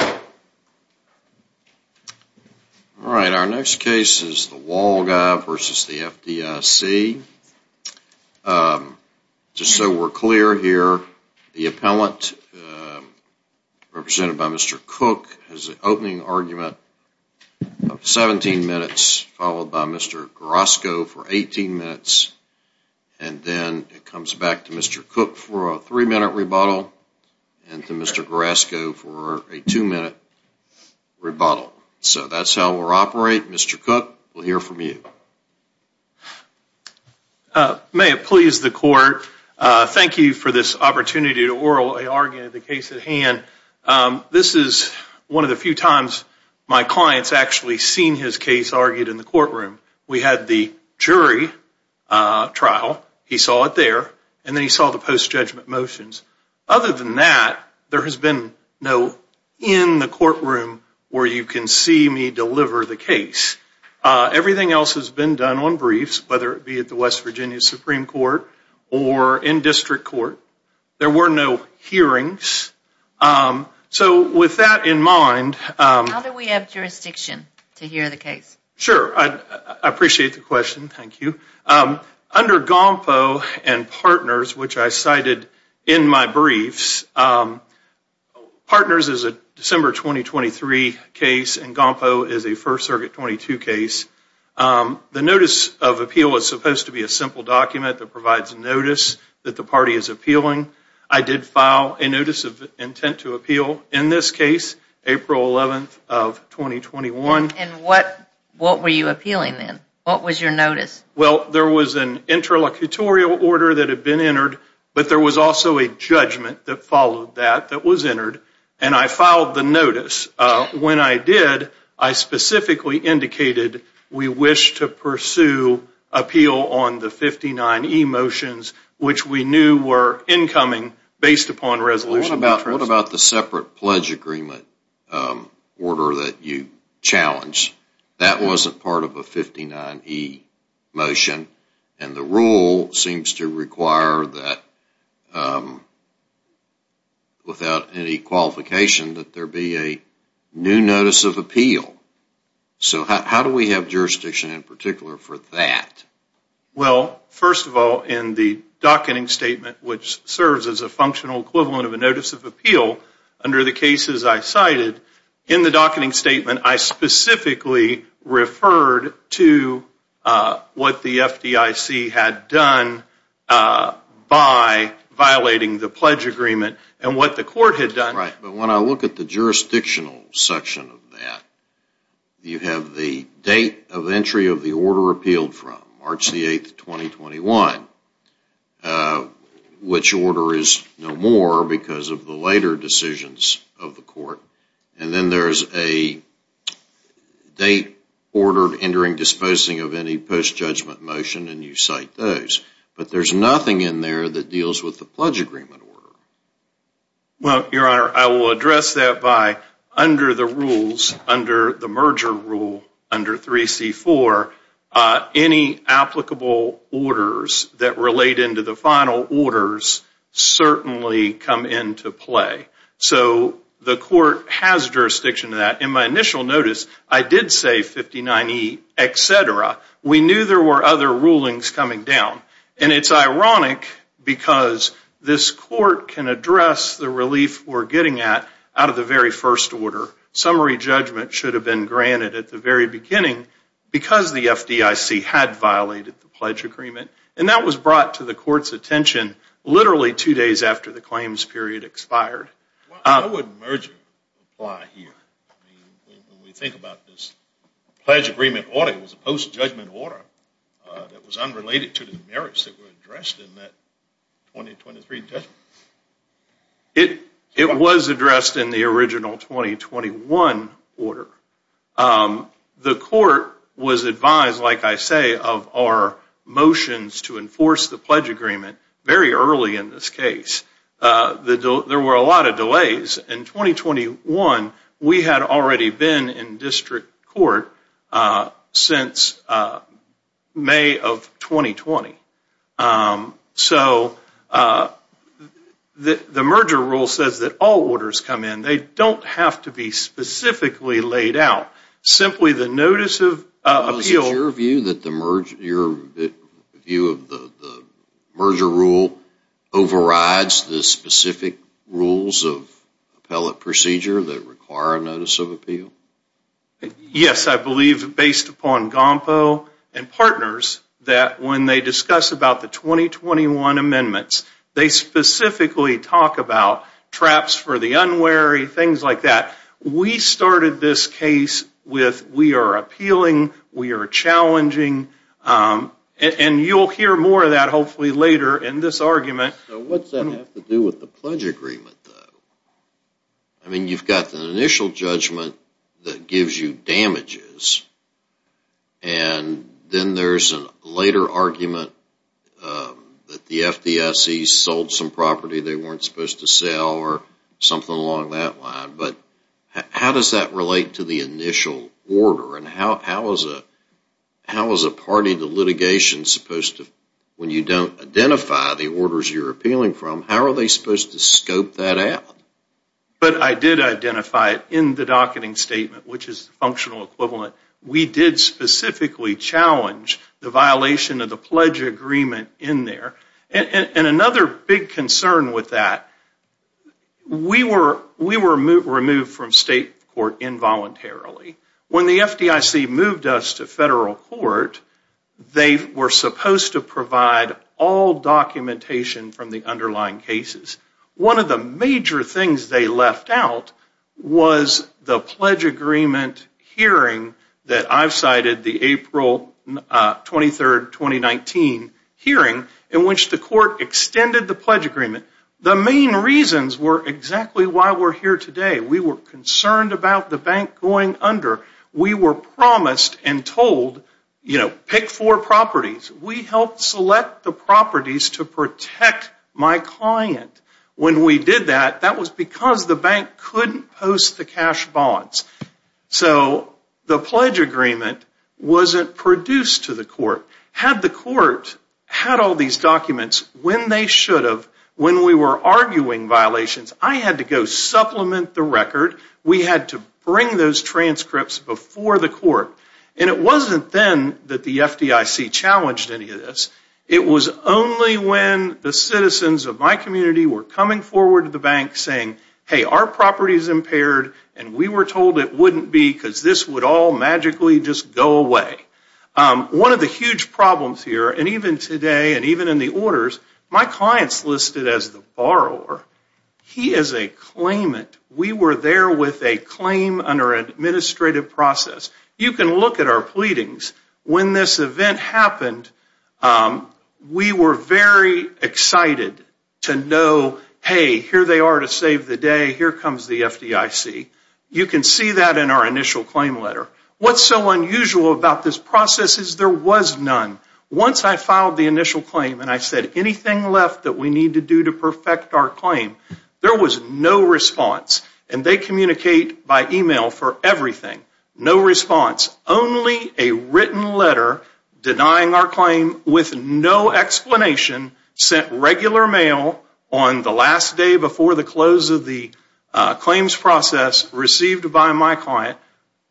All right, our next case is the Wall Guy v. FDIC. Just so we're clear here, the appellant, represented by Mr. Cook, has an opening argument of 17 minutes, followed by Mr. Grasco for 18 minutes, and then it comes back to Mr. Cook for a 3-minute rebuttal and to Mr. Grasco for a 2-minute rebuttal. So that's how we'll operate. Mr. Cook, we'll hear from you. May it please the Court, thank you for this opportunity to orally argue the case at hand. This is one of the few times my client's actually seen his case argued in the courtroom. We had the jury trial, he saw it there, and then he saw the post-judgment motions. Other than that, there has been no in the courtroom where you can see me deliver the case. Everything else has been done on briefs, whether it be at the West Virginia Supreme Court or in district court. There were no hearings. So with that in mind... How do we have jurisdiction to hear the case? Sure, I appreciate the question, thank you. Under GOMPO and Partners, which I cited in my briefs, Partners is a December 2023 case, and GOMPO is a First Circuit 22 case. The Notice of Appeal is supposed to be a simple document that provides notice that the party is appealing. I did file a Notice of Intent to Appeal in this case, April 11th of 2021. And what were you appealing then? What was your notice? Well, there was an interlocutorial order that had been entered, but there was also a judgment that followed that, that was entered, and I filed the notice. When I did, I specifically indicated we wish to pursue appeal on the 59E motions, which we knew were incoming based upon resolution. What about the separate pledge agreement order that you challenged? That wasn't part of a 59E motion. And the rule seems to require that, without any qualification, that there be a new Notice of Appeal. So how do we have jurisdiction in particular for that? Well, first of all, in the docketing statement, which serves as a functional equivalent of a Notice of Appeal, under the cases I cited, in the docketing statement, I specifically referred to what the FDIC had done by violating the pledge agreement and what the court had done. Right, but when I look at the jurisdictional section of that, you have the date of entry of the order appealed from, March the 8th, 2021, which order is no more because of the later decisions of the court, and then there's a date ordered entering disposing of any post-judgment motion, and you cite those. But there's nothing in there that deals with the pledge agreement order. Well, Your Honor, I will address that by, under the rules, under the merger rule, under 3C4, any applicable orders that relate into the final orders certainly come into play. So the court has jurisdiction to that. In my initial notice, I did say 59E etc. We knew there were other rulings coming down. And it's ironic because this court can address the relief we're getting at, out of the very first order. Summary judgment should have been granted at the very beginning, because the FDIC had violated the pledge agreement. And that was brought to the court's attention literally two days after the claims period expired. Why would merger apply here? When we think about this pledge agreement order, it was a post-judgment order that was unrelated to the merits that were addressed in that 2023 judgment. It was addressed in the original 2021 order. The court was advised, like I say, of our motions to enforce the pledge agreement very early in this case. There were a lot of delays. In 2021, we had already been in district court since May of 2020. So the merger rule says that all orders come in. They don't have to be specifically laid out. Simply the notice of appeal... Is your view that the merger rule overrides the specific rules of appellate procedure that require a notice of appeal? Yes, I believe, based upon GOMPO and partners, that when they discuss about the 2021 amendments, they specifically talk about traps for the unwary, things like that. We started this case with, we are appealing, we are challenging. And you'll hear more of that, hopefully, later in this argument. What does that have to do with the pledge agreement, though? I mean, you've got the initial judgment that gives you damages. And then there's a later argument that the FDIC sold some property they weren't supposed to sell or something along that line. But how does that relate to the initial order? And how is a party to litigation supposed to... But I did identify it in the docketing statement, which is functional equivalent. We did specifically challenge the violation of the pledge agreement in there. And another big concern with that, we were removed from state court involuntarily. When the FDIC moved us to federal court, they were supposed to provide all documentation from the underlying cases. One of the major things they left out was the pledge agreement hearing that I've cited, the April 23rd, 2019 hearing, in which the court extended the pledge agreement. The main reasons were exactly why we're here today. We were concerned about the bank going under. We were promised and told, you know, pick four properties. We helped select the properties to protect my client. When we did that, that was because the bank couldn't post the cash bonds. So the pledge agreement wasn't produced to the court. Had the court had all these documents when they should have, when we were arguing violations, I had to go supplement the record. We had to bring those transcripts before the court. And it wasn't then that the FDIC challenged any of this. It was only when the citizens of my community were coming forward to the bank saying, hey, our property is impaired and we were told it wouldn't be because this would all magically just go away. One of the huge problems here, and even today and even in the orders, my client's listed as the borrower. He is a claimant. We were there with a claim under an administrative process. You can look at our pleadings. When this event happened, we were very excited to know, hey, here they are to save the day. Here comes the FDIC. You can see that in our initial claim letter. What's so unusual about this process is there was none. Once I filed the initial claim and I said anything left that we need to do to perfect our claim, there was no response. And they communicate by email for everything. No response. Only a written letter denying our claim with no explanation sent regular mail on the last day before the close of the claims process received by my client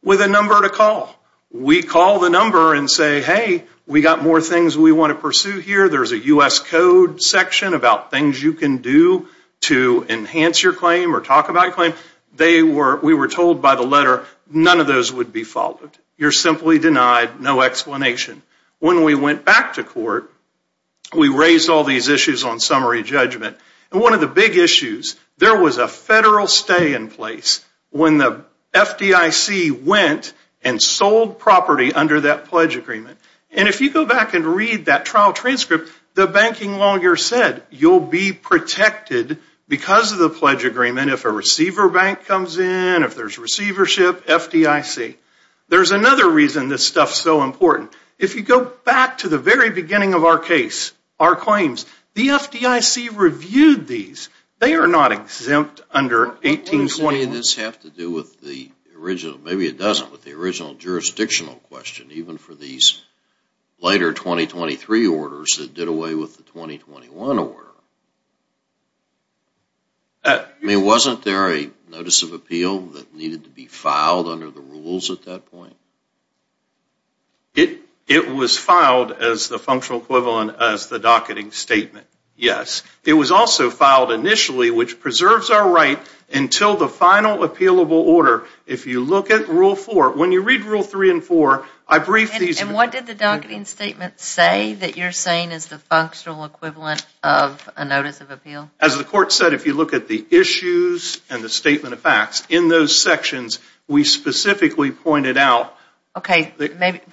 with a number to call. We call the number and say, hey, we got more things we want to pursue here. There's a U.S. code section about things you can do to enhance your claim or talk about your claim. We were told by the letter none of those would be followed. You're simply denied no explanation. When we went back to court, we raised all these issues on summary judgment. And one of the big issues, there was a federal stay in place when the FDIC went and sold property under that pledge agreement. And if you go back and read that trial transcript, the banking lawyer said you'll be protected because of the pledge agreement if a receiver bank comes in, if there's receivership, FDIC. There's another reason this stuff's so important. If you go back to the very beginning of our case, our claims, the FDIC reviewed these. They are not exempt under 1821. What does any of this have to do with the original, maybe it doesn't, with the original jurisdictional question, even for these later 2023 orders that did away with the 2021 order? I mean, wasn't there a notice of appeal that needed to be filed under the rules at that point? It was filed as the functional equivalent as the docketing statement, yes. It was also filed initially, which preserves our right until the final appealable order. If you look at Rule 4, when you read Rule 3 and 4, I brief these. And what did the docketing statement say that you're saying is the functional equivalent of a notice of appeal? As the court said, if you look at the issues and the statement of facts, in those sections, we specifically pointed out. Okay.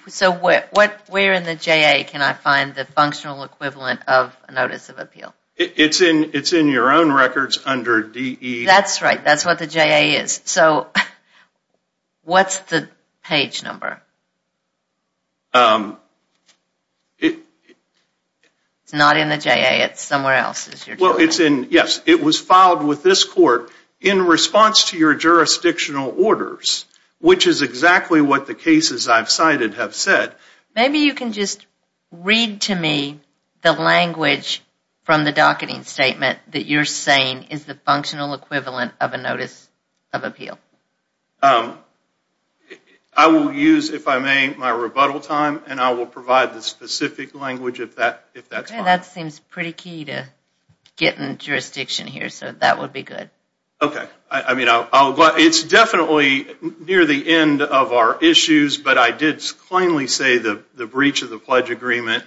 So where in the JA can I find the functional equivalent of a notice of appeal? It's in your own records under DE. That's right. That's what the JA is. So what's the page number? It's not in the JA. It's somewhere else. Well, yes, it was filed with this court in response to your jurisdictional orders, which is exactly what the cases I've cited have said. Maybe you can just read to me the language from the docketing statement that you're saying is the functional equivalent of a notice of appeal. I will use, if I may, my rebuttal time, and I will provide the specific language if that's possible. Okay. That seems pretty key to getting jurisdiction here, so that would be good. Okay. It's definitely near the end of our issues, but I did plainly say the breach of the pledge agreement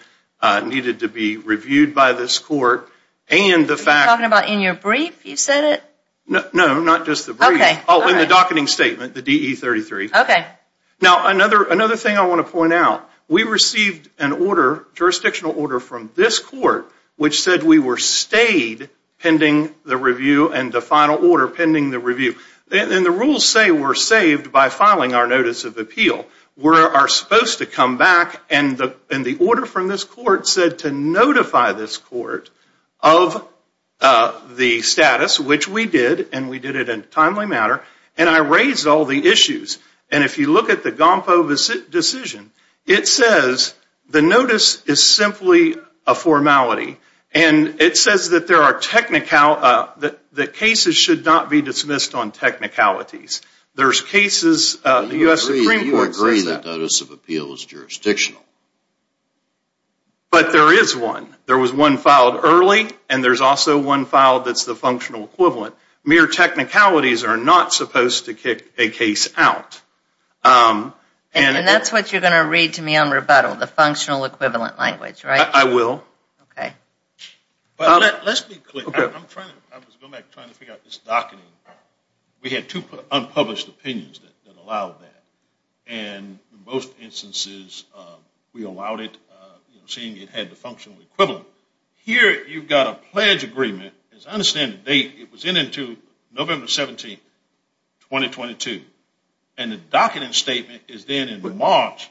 needed to be reviewed by this court. Are you talking about in your brief you said it? No, not just the brief. Oh, in the docketing statement, the DE-33. Okay. Now, another thing I want to point out. We received a jurisdictional order from this court which said we were stayed pending the review and the final order pending the review. And the rules say we're saved by filing our notice of appeal. We are supposed to come back, and the order from this court said to notify this court of the status, which we did, and we did it in a timely manner, and I raised all the issues. And if you look at the GOMPO decision, it says the notice is simply a formality, and it says that cases should not be dismissed on technicalities. You agree the notice of appeal is jurisdictional. But there is one. There was one filed early, and there's also one filed that's the functional equivalent. Mere technicalities are not supposed to kick a case out. And that's what you're going to read to me on rebuttal, the functional equivalent language, right? I will. Okay. Let's be clear. I was going back trying to figure out this docketing. We had two unpublished opinions that allowed that, and in both instances we allowed it, seeing it had the functional equivalent. Here you've got a pledge agreement. As I understand the date, it was in until November 17, 2022, and the docketing statement is then in March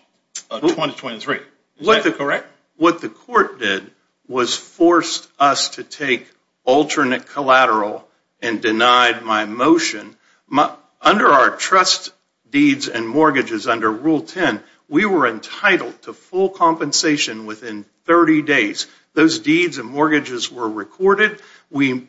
of 2023. Is that correct? What the court did was forced us to take alternate collateral and denied my motion. Under our trust deeds and mortgages under Rule 10, we were entitled to full compensation within 30 days. Those deeds and mortgages were recorded. We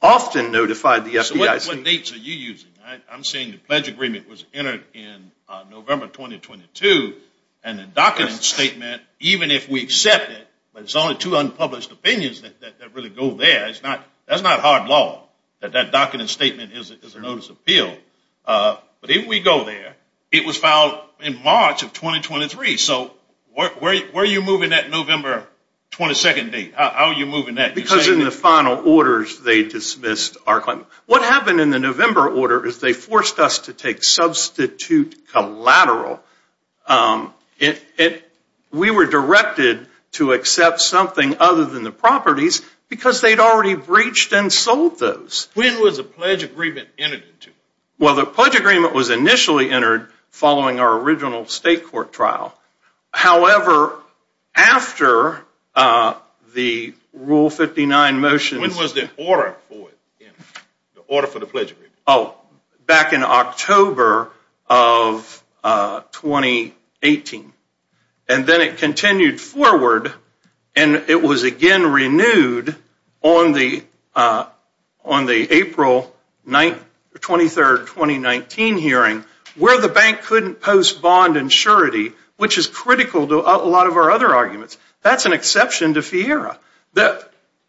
often notified the FBI. So what dates are you using? I'm saying the pledge agreement was entered in November 2022, and the docketing statement, even if we accept it, but it's only two unpublished opinions that really go there. That's not hard law that that docketing statement is a notice of appeal. But if we go there, it was filed in March of 2023. So where are you moving that November 22 date? How are you moving that? Because in the final orders they dismissed our claim. What happened in the November order is they forced us to take substitute collateral. We were directed to accept something other than the properties because they'd already breached and sold those. When was the pledge agreement entered into? Well, the pledge agreement was initially entered following our original state court trial. However, after the Rule 59 motion. When was the order for the pledge agreement? Back in October of 2018. And then it continued forward, and it was again renewed on the April 23, 2019 hearing, where the bank couldn't post bond and surety, which is critical to a lot of our other arguments. That's an exception to FIERA.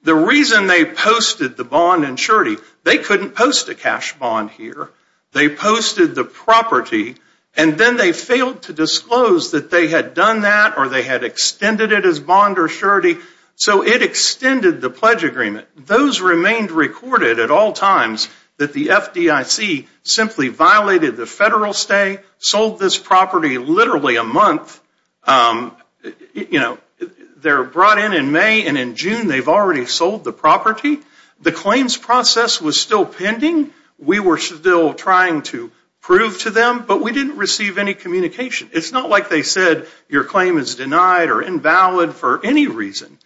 The reason they posted the bond and surety, they couldn't post a cash bond here. They posted the property, and then they failed to disclose that they had done that or they had extended it as bond or surety. So it extended the pledge agreement. Those remained recorded at all times that the FDIC simply violated the federal stay, sold this property literally a month. They're brought in in May, and in June they've already sold the property. The claims process was still pending. We were still trying to prove to them, but we didn't receive any communication. It's not like they said your claim is denied or invalid for any reason.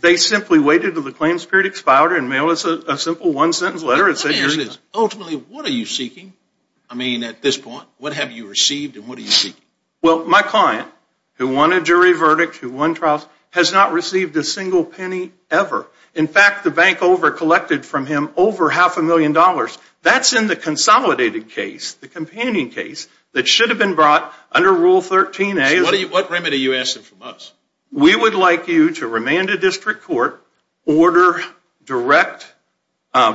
They simply waited until the claims period expired and mailed us a simple one-sentence letter. Ultimately, what are you seeking? I mean, at this point, what have you received and what are you seeking? Well, my client, who won a jury verdict, who won trials, has not received a single penny ever. In fact, the bank overcollected from him over half a million dollars. That's in the consolidated case, the companion case, that should have been brought under Rule 13a. What remedy are you asking from us? We would like you to remand a district court, order direct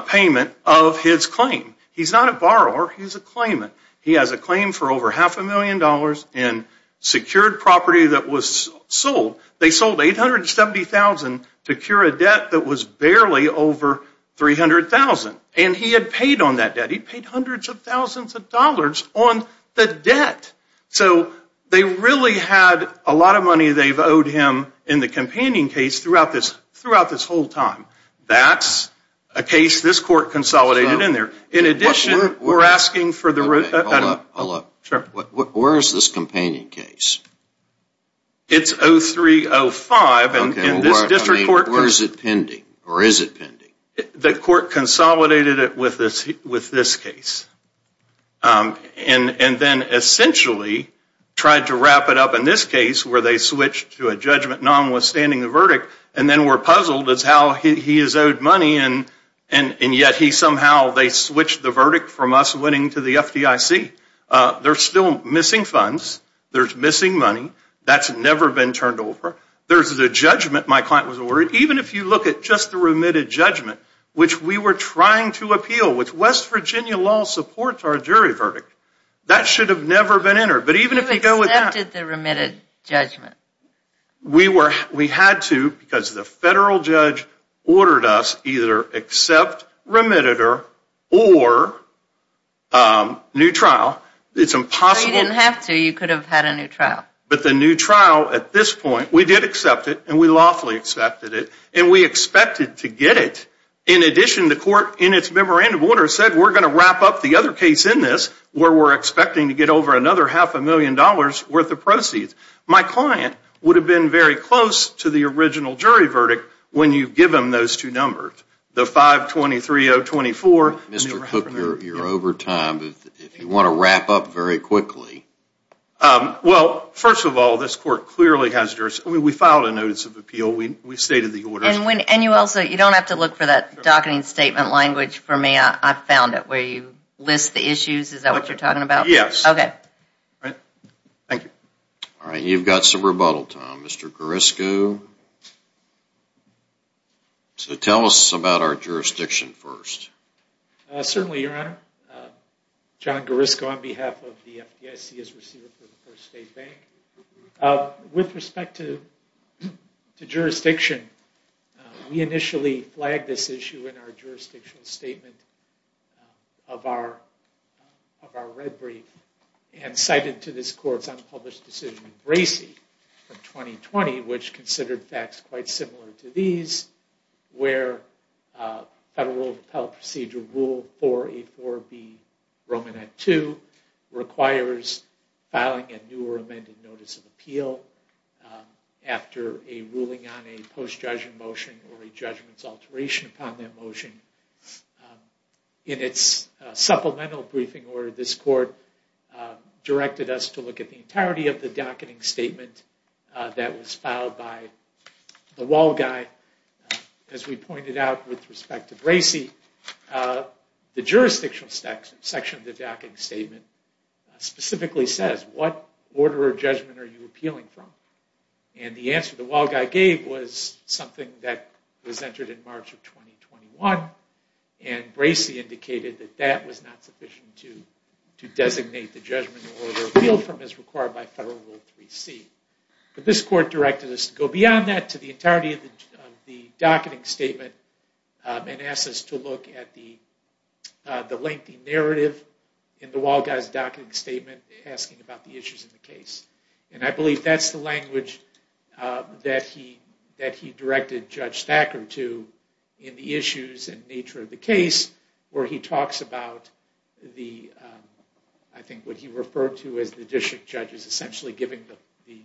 payment of his claim. He's not a borrower. He's a claimant. He has a claim for over half a million dollars and secured property that was sold. They sold $870,000 to cure a debt that was barely over $300,000. And he had paid on that debt. He paid hundreds of thousands of dollars on the debt. So they really had a lot of money they've owed him in the companion case throughout this whole time. That's a case this court consolidated in there. In addition, we're asking for the... Hold up. Hold up. Sure. Where is this companion case? It's 03-05. Okay. Where is it pending? Or is it pending? The court consolidated it with this case. And then essentially tried to wrap it up in this case where they switched to a judgment nonwithstanding the verdict. And then we're puzzled as to how he has owed money. And yet he somehow... They switched the verdict from us winning to the FDIC. There's still missing funds. There's missing money. That's never been turned over. There's the judgment my client was ordered. Even if you look at just the remitted judgment, which we were trying to appeal, which West Virginia law supports our jury verdict. That should have never been entered. But even if you go with that... You accepted the remitted judgment. We had to because the federal judge ordered us either accept remitted or new trial. It's impossible... So you didn't have to. You could have had a new trial. But the new trial at this point... We did accept it. And we lawfully accepted it. And we expected to get it. In addition, the court in its memorandum order said we're going to wrap up the other case in this where we're expecting to get over another half a million dollars worth of proceeds. My client would have been very close to the original jury verdict when you give them those two numbers. The 523-024... Mr. Cook, you're over time. If you want to wrap up very quickly... Well, first of all, this court clearly has jurisdiction. We filed a notice of appeal. We stated the order. And you also... You don't have to look for that docketing statement language for me. I found it where you list the issues. Is that what you're talking about? Yes. Okay. Thank you. All right. You've got some rebuttal time, Mr. Garrisco. So tell us about our jurisdiction first. Certainly, Your Honor. John Garrisco on behalf of the FDIC as Receiver for the First State Bank. With respect to jurisdiction, we initially flagged this issue in our jurisdictional statement of our red brief and cited to this court's unpublished decision in Gracie from 2020, which considered facts quite similar to these, where Federal Appellate Procedure Rule 4A4B Romanette 2 requires filing a new or amended notice of appeal after a ruling on a post-judgment motion or a judgment's alteration upon that motion. In its supplemental briefing order, this court directed us to look at the entirety of the docketing statement that was filed by the wall guy. As we pointed out with respect to Gracie, the jurisdictional section of the docketing statement specifically says, what order of judgment are you appealing from? And the answer the wall guy gave was something that was entered in March of 2021, and Gracie indicated that that was not sufficient to designate the judgment or appeal from as required by Federal Rule 3C. But this court directed us to go beyond that to the entirety of the docketing statement and asked us to look at the lengthy narrative in the wall guy's docketing statement asking about the issues in the case. And I believe that's the language that he directed Judge Thacker to in the issues and nature of the case, where he talks about what he referred to as the district judges essentially giving the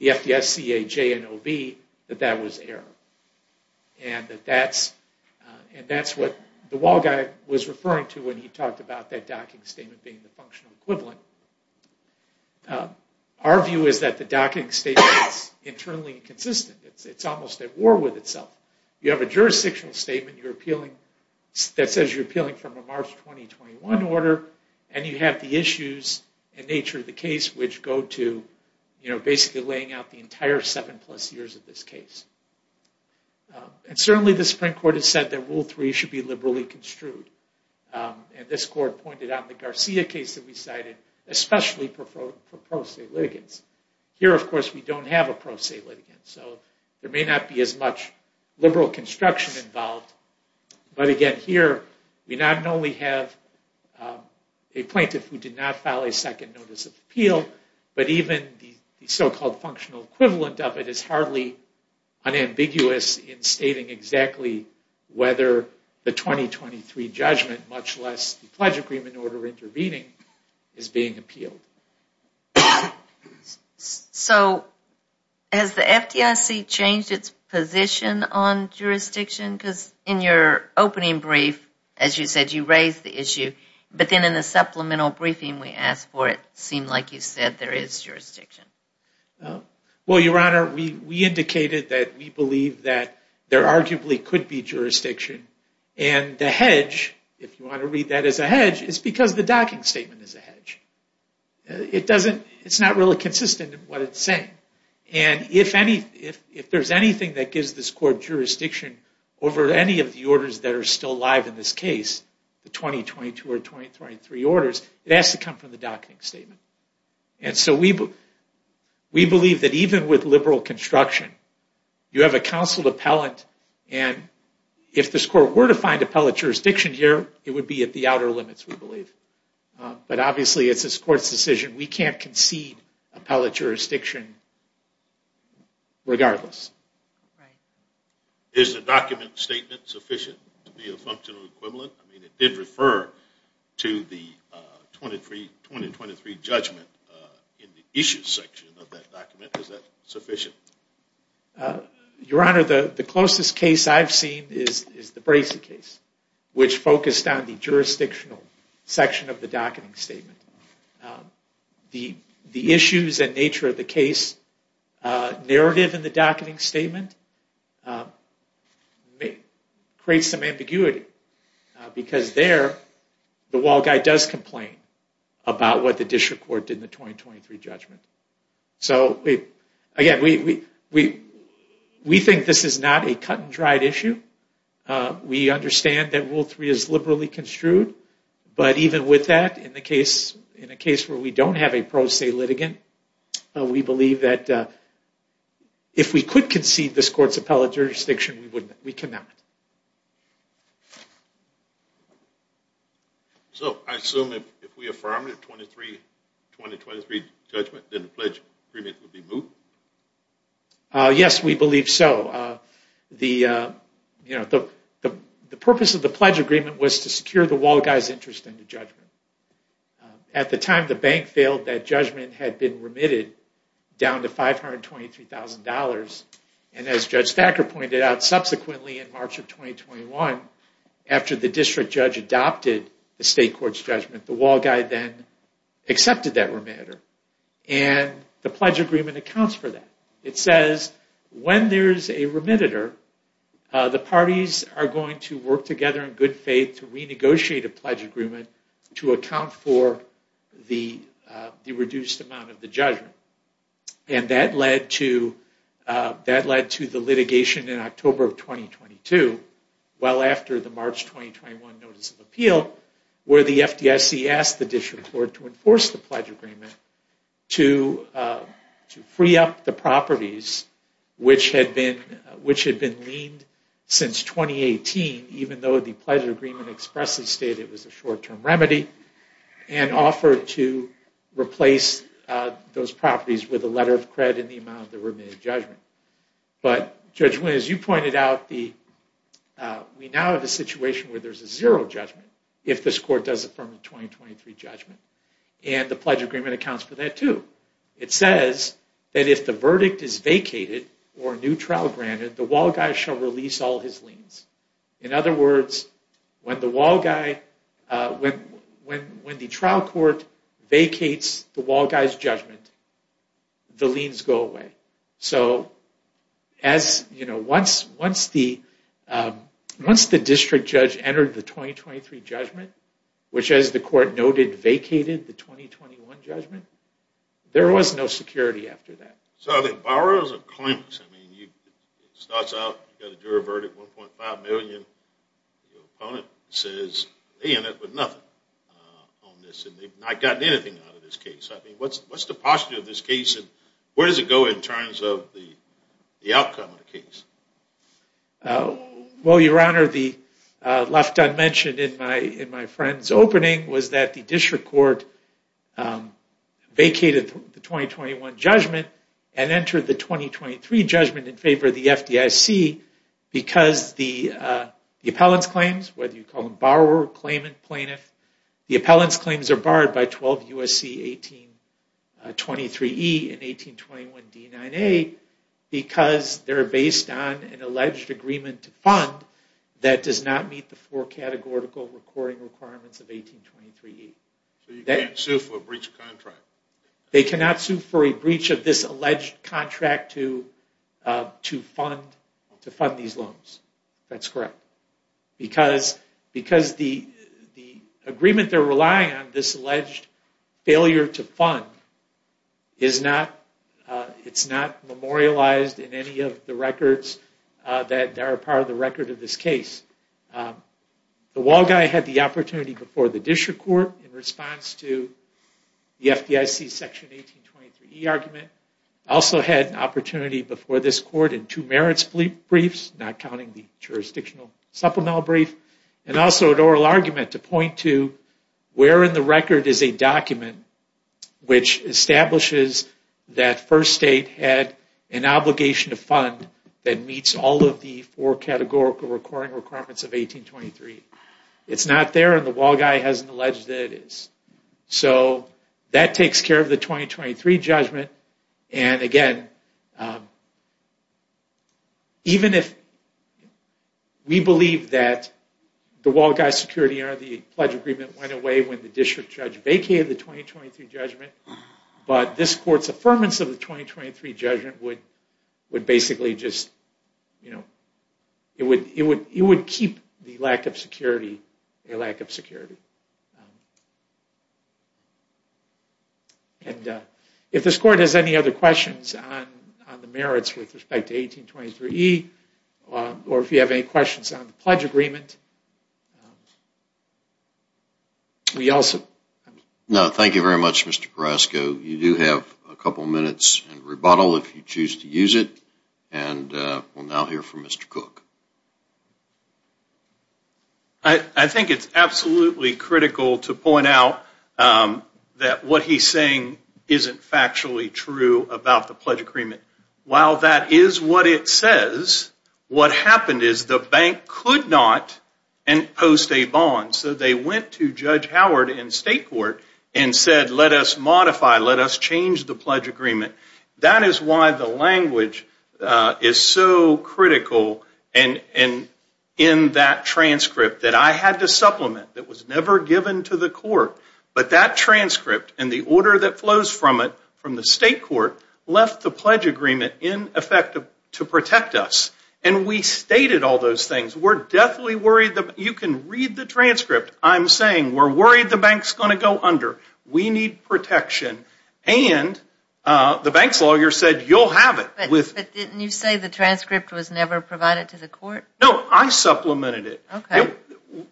FDSCA J&OB that that was error. And that's what the wall guy was referring to when he talked about that docketing statement being the functional equivalent. Our view is that the docketing statement is internally inconsistent. It's almost at war with itself. You have a jurisdictional statement that says you're appealing from a March 2021 order, and you have the issues and nature of the case which go to basically laying out the entire seven plus years of this case. And certainly the Supreme Court has said that Rule 3 should be liberally construed. And this court pointed out the Garcia case that we cited, especially for pro se litigants. Here, of course, we don't have a pro se litigant, so there may not be as much liberal construction involved. But again, here we not only have a plaintiff who did not file a second notice of appeal, but even the so-called functional equivalent of it is hardly unambiguous in stating exactly whether the 2023 judgment, much less the pledge agreement in order of intervening, is being appealed. So has the FDIC changed its position on jurisdiction? Because in your opening brief, as you said, you raised the issue. But then in the supplemental briefing we asked for it, it seemed like you said there is jurisdiction. Well, Your Honor, we indicated that we believe that there arguably could be jurisdiction. And the hedge, if you want to read that as a hedge, is because the docking statement is a hedge. It's not really consistent in what it's saying. And if there's anything that gives this court jurisdiction over any of the orders that are still alive in this case, the 2022 or 2023 orders, it has to come from the docking statement. And so we believe that even with liberal construction, you have a counseled appellant, and if this court were to find appellate jurisdiction here, it would be at the outer limits, we believe. But obviously it's this court's decision. We can't concede appellate jurisdiction regardless. Right. Is the docking statement sufficient to be a functional equivalent? I mean, it did refer to the 2023 judgment in the issues section of that document. Is that sufficient? Your Honor, the closest case I've seen is the Bracey case, which focused on the jurisdictional section of the docking statement. The issues and nature of the case narrative in the docking statement creates some ambiguity. Because there, the wall guy does complain about what the district court did in the 2023 judgment. So again, we think this is not a cut and dried issue. We understand that Rule 3 is liberally construed. But even with that, in a case where we don't have a pro se litigant, we believe that if we could concede this court's appellate jurisdiction, we cannot. So I assume if we affirm the 2023 judgment, then the pledge agreement would be moved? Yes, we believe so. The purpose of the pledge agreement was to secure the wall guy's interest in the judgment. At the time the bank failed, that judgment had been remitted down to $523,000. And as Judge Thacker pointed out, subsequently in March of 2021, after the district judge adopted the state court's judgment, the wall guy then accepted that rematter. And the pledge agreement accounts for that. It says when there's a remitter, the parties are going to work together in good faith to renegotiate a pledge agreement to account for the reduced amount of the judgment. And that led to the litigation in October of 2022, well after the March 2021 notice of appeal, where the FDIC asked the district court to enforce the pledge agreement to free up the properties which had been leaned since 2018, even though the pledge agreement expressly stated it was a short-term remedy, and offered to replace those properties with a letter of credit in the amount of the remitted judgment. But Judge Wynn, as you pointed out, we now have a situation where there's a zero judgment if this court does affirm the 2023 judgment. And the pledge agreement accounts for that too. It says that if the verdict is vacated or a new trial granted, the wall guy shall release all his liens. In other words, when the trial court vacates the wall guy's judgment, the liens go away. So once the district judge entered the 2023 judgment, which as the court noted, vacated the 2021 judgment, there was no security after that. So the borrowers are clueless. I mean, it starts out, you've got a juror verdict, 1.5 million. Your opponent says, they end up with nothing on this, and they've not gotten anything out of this case. I mean, what's the posture of this case, and where does it go in terms of the outcome of the case? Well, Your Honor, the left-unmentioned in my friend's opening was that the district court vacated the 2021 judgment and entered the 2023 judgment in favor of the FDIC because the appellant's claims, whether you call them borrower, claimant, plaintiff, the appellant's claims are barred by 12 U.S.C. 1823E and 1821D9A because they're based on an alleged agreement to fund that does not meet the four categorical recording requirements of 1823E. So you can't sue for a breach of contract? They cannot sue for a breach of this alleged contract to fund these loans. That's correct, because the agreement they're relying on, this alleged failure to fund, is not memorialized in any of the records that are part of the record of this case. The wall guy had the opportunity before the district court in response to the FDIC section 1823E argument. Also had an opportunity before this court in two merits briefs, not counting the jurisdictional supplemental brief, and also an oral argument to point to where in the record is a document which establishes that First State had an obligation to fund that meets all of the four categorical recording requirements of 1823E. It's not there and the wall guy hasn't alleged that it is. So that takes care of the 2023 judgment, and again, even if we believe that the wall guy security under the pledge agreement went away when the district judge vacated the 2023 judgment, but this court's affirmance of the 2023 judgment would basically just, you know, it would keep the lack of security a lack of security. And if this court has any other questions on the merits with respect to 1823E, or if you have any questions on the pledge agreement, we also... No, thank you very much, Mr. Carrasco. You do have a couple minutes in rebuttal if you choose to use it, and we'll now hear from Mr. Cook. I think it's absolutely critical to point out that what he's saying isn't factually true about the pledge agreement. While that is what it says, what happened is the bank could not post a bond. So they went to Judge Howard in state court and said, let us modify, let us change the pledge agreement. That is why the language is so critical in that transcript that I had to supplement that was never given to the court. But that transcript and the order that flows from it from the state court left the pledge agreement in effect to protect us. And we stated all those things. We're definitely worried that you can read the transcript. I'm saying we're worried the bank's going to go under. We need protection. And the bank's lawyer said, you'll have it. But didn't you say the transcript was never provided to the court? No, I supplemented it. Okay.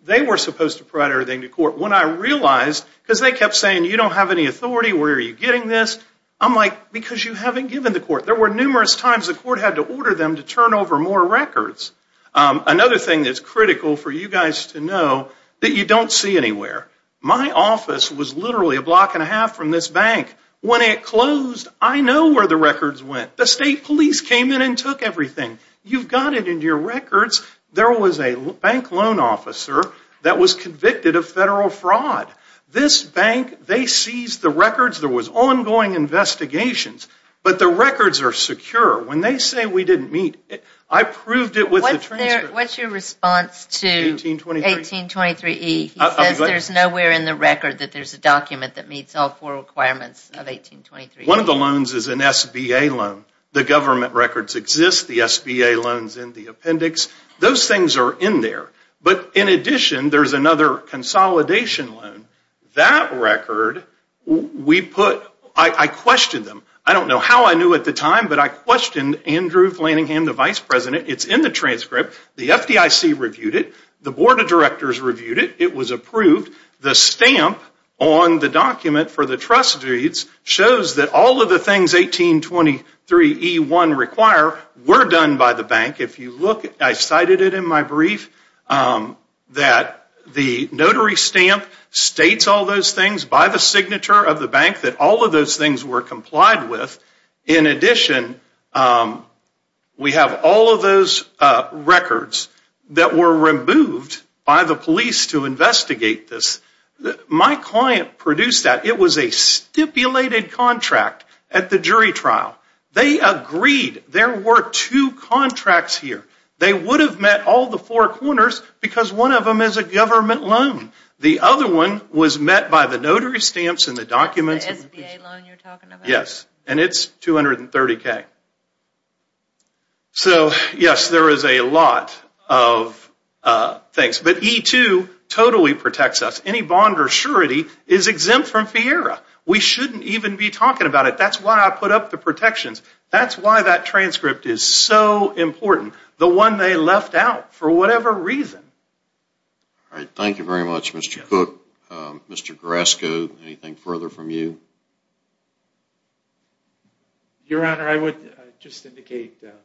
They were supposed to provide everything to court. When I realized, because they kept saying, you don't have any authority, where are you getting this? I'm like, because you haven't given the court. There were numerous times the court had to order them to turn over more records. Another thing that's critical for you guys to know that you don't see anywhere. My office was literally a block and a half from this bank. When it closed, I know where the records went. The state police came in and took everything. You've got it in your records. There was a bank loan officer that was convicted of federal fraud. This bank, they seized the records. There was ongoing investigations. But the records are secure. When they say we didn't meet, I proved it with the transcript. What's your response to 1823E? He says there's nowhere in the record that there's a document that meets all four requirements of 1823E. One of the loans is an SBA loan. The government records exist. The SBA loan is in the appendix. Those things are in there. But in addition, there's another consolidation loan. That record, I questioned them. I don't know how I knew at the time, but I questioned Andrew Flanningham, the vice president. It's in the transcript. The FDIC reviewed it. The board of directors reviewed it. It was approved. The stamp on the document for the trust deeds shows that all of the things 1823E1 require were done by the bank. If you look, I cited it in my brief, that the notary stamp states all those things by the signature of the bank, that all of those things were complied with. In addition, we have all of those records that were removed by the police to investigate this. My client produced that. It was a stipulated contract at the jury trial. They agreed there were two contracts here. They would have met all the four corners because one of them is a government loan. The other one was met by the notary stamps and the documents. Yes, and it's $230,000. So, yes, there is a lot of things. But E2 totally protects us. Any bond or surety is exempt from FIERA. We shouldn't even be talking about it. That's why I put up the protections. That's why that transcript is so important, the one they left out for whatever reason. Thank you very much, Mr. Cook. Mr. Grasco, anything further from you? Your Honor, I would just indicate that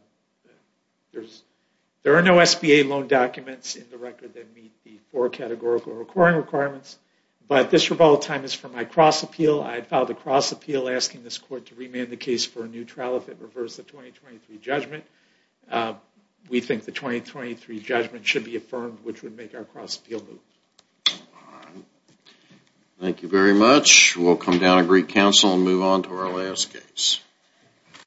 there are no SBA loan documents in the record that meet the four categorical requiring requirements. But this rebuttal time is for my cross-appeal. I filed a cross-appeal asking this court to remand the case for a new trial if it reverts the 2023 judgment. We think the 2023 judgment should be affirmed, which would make our cross-appeal move. Thank you very much. We'll come down to Greek Council and move on to our last case.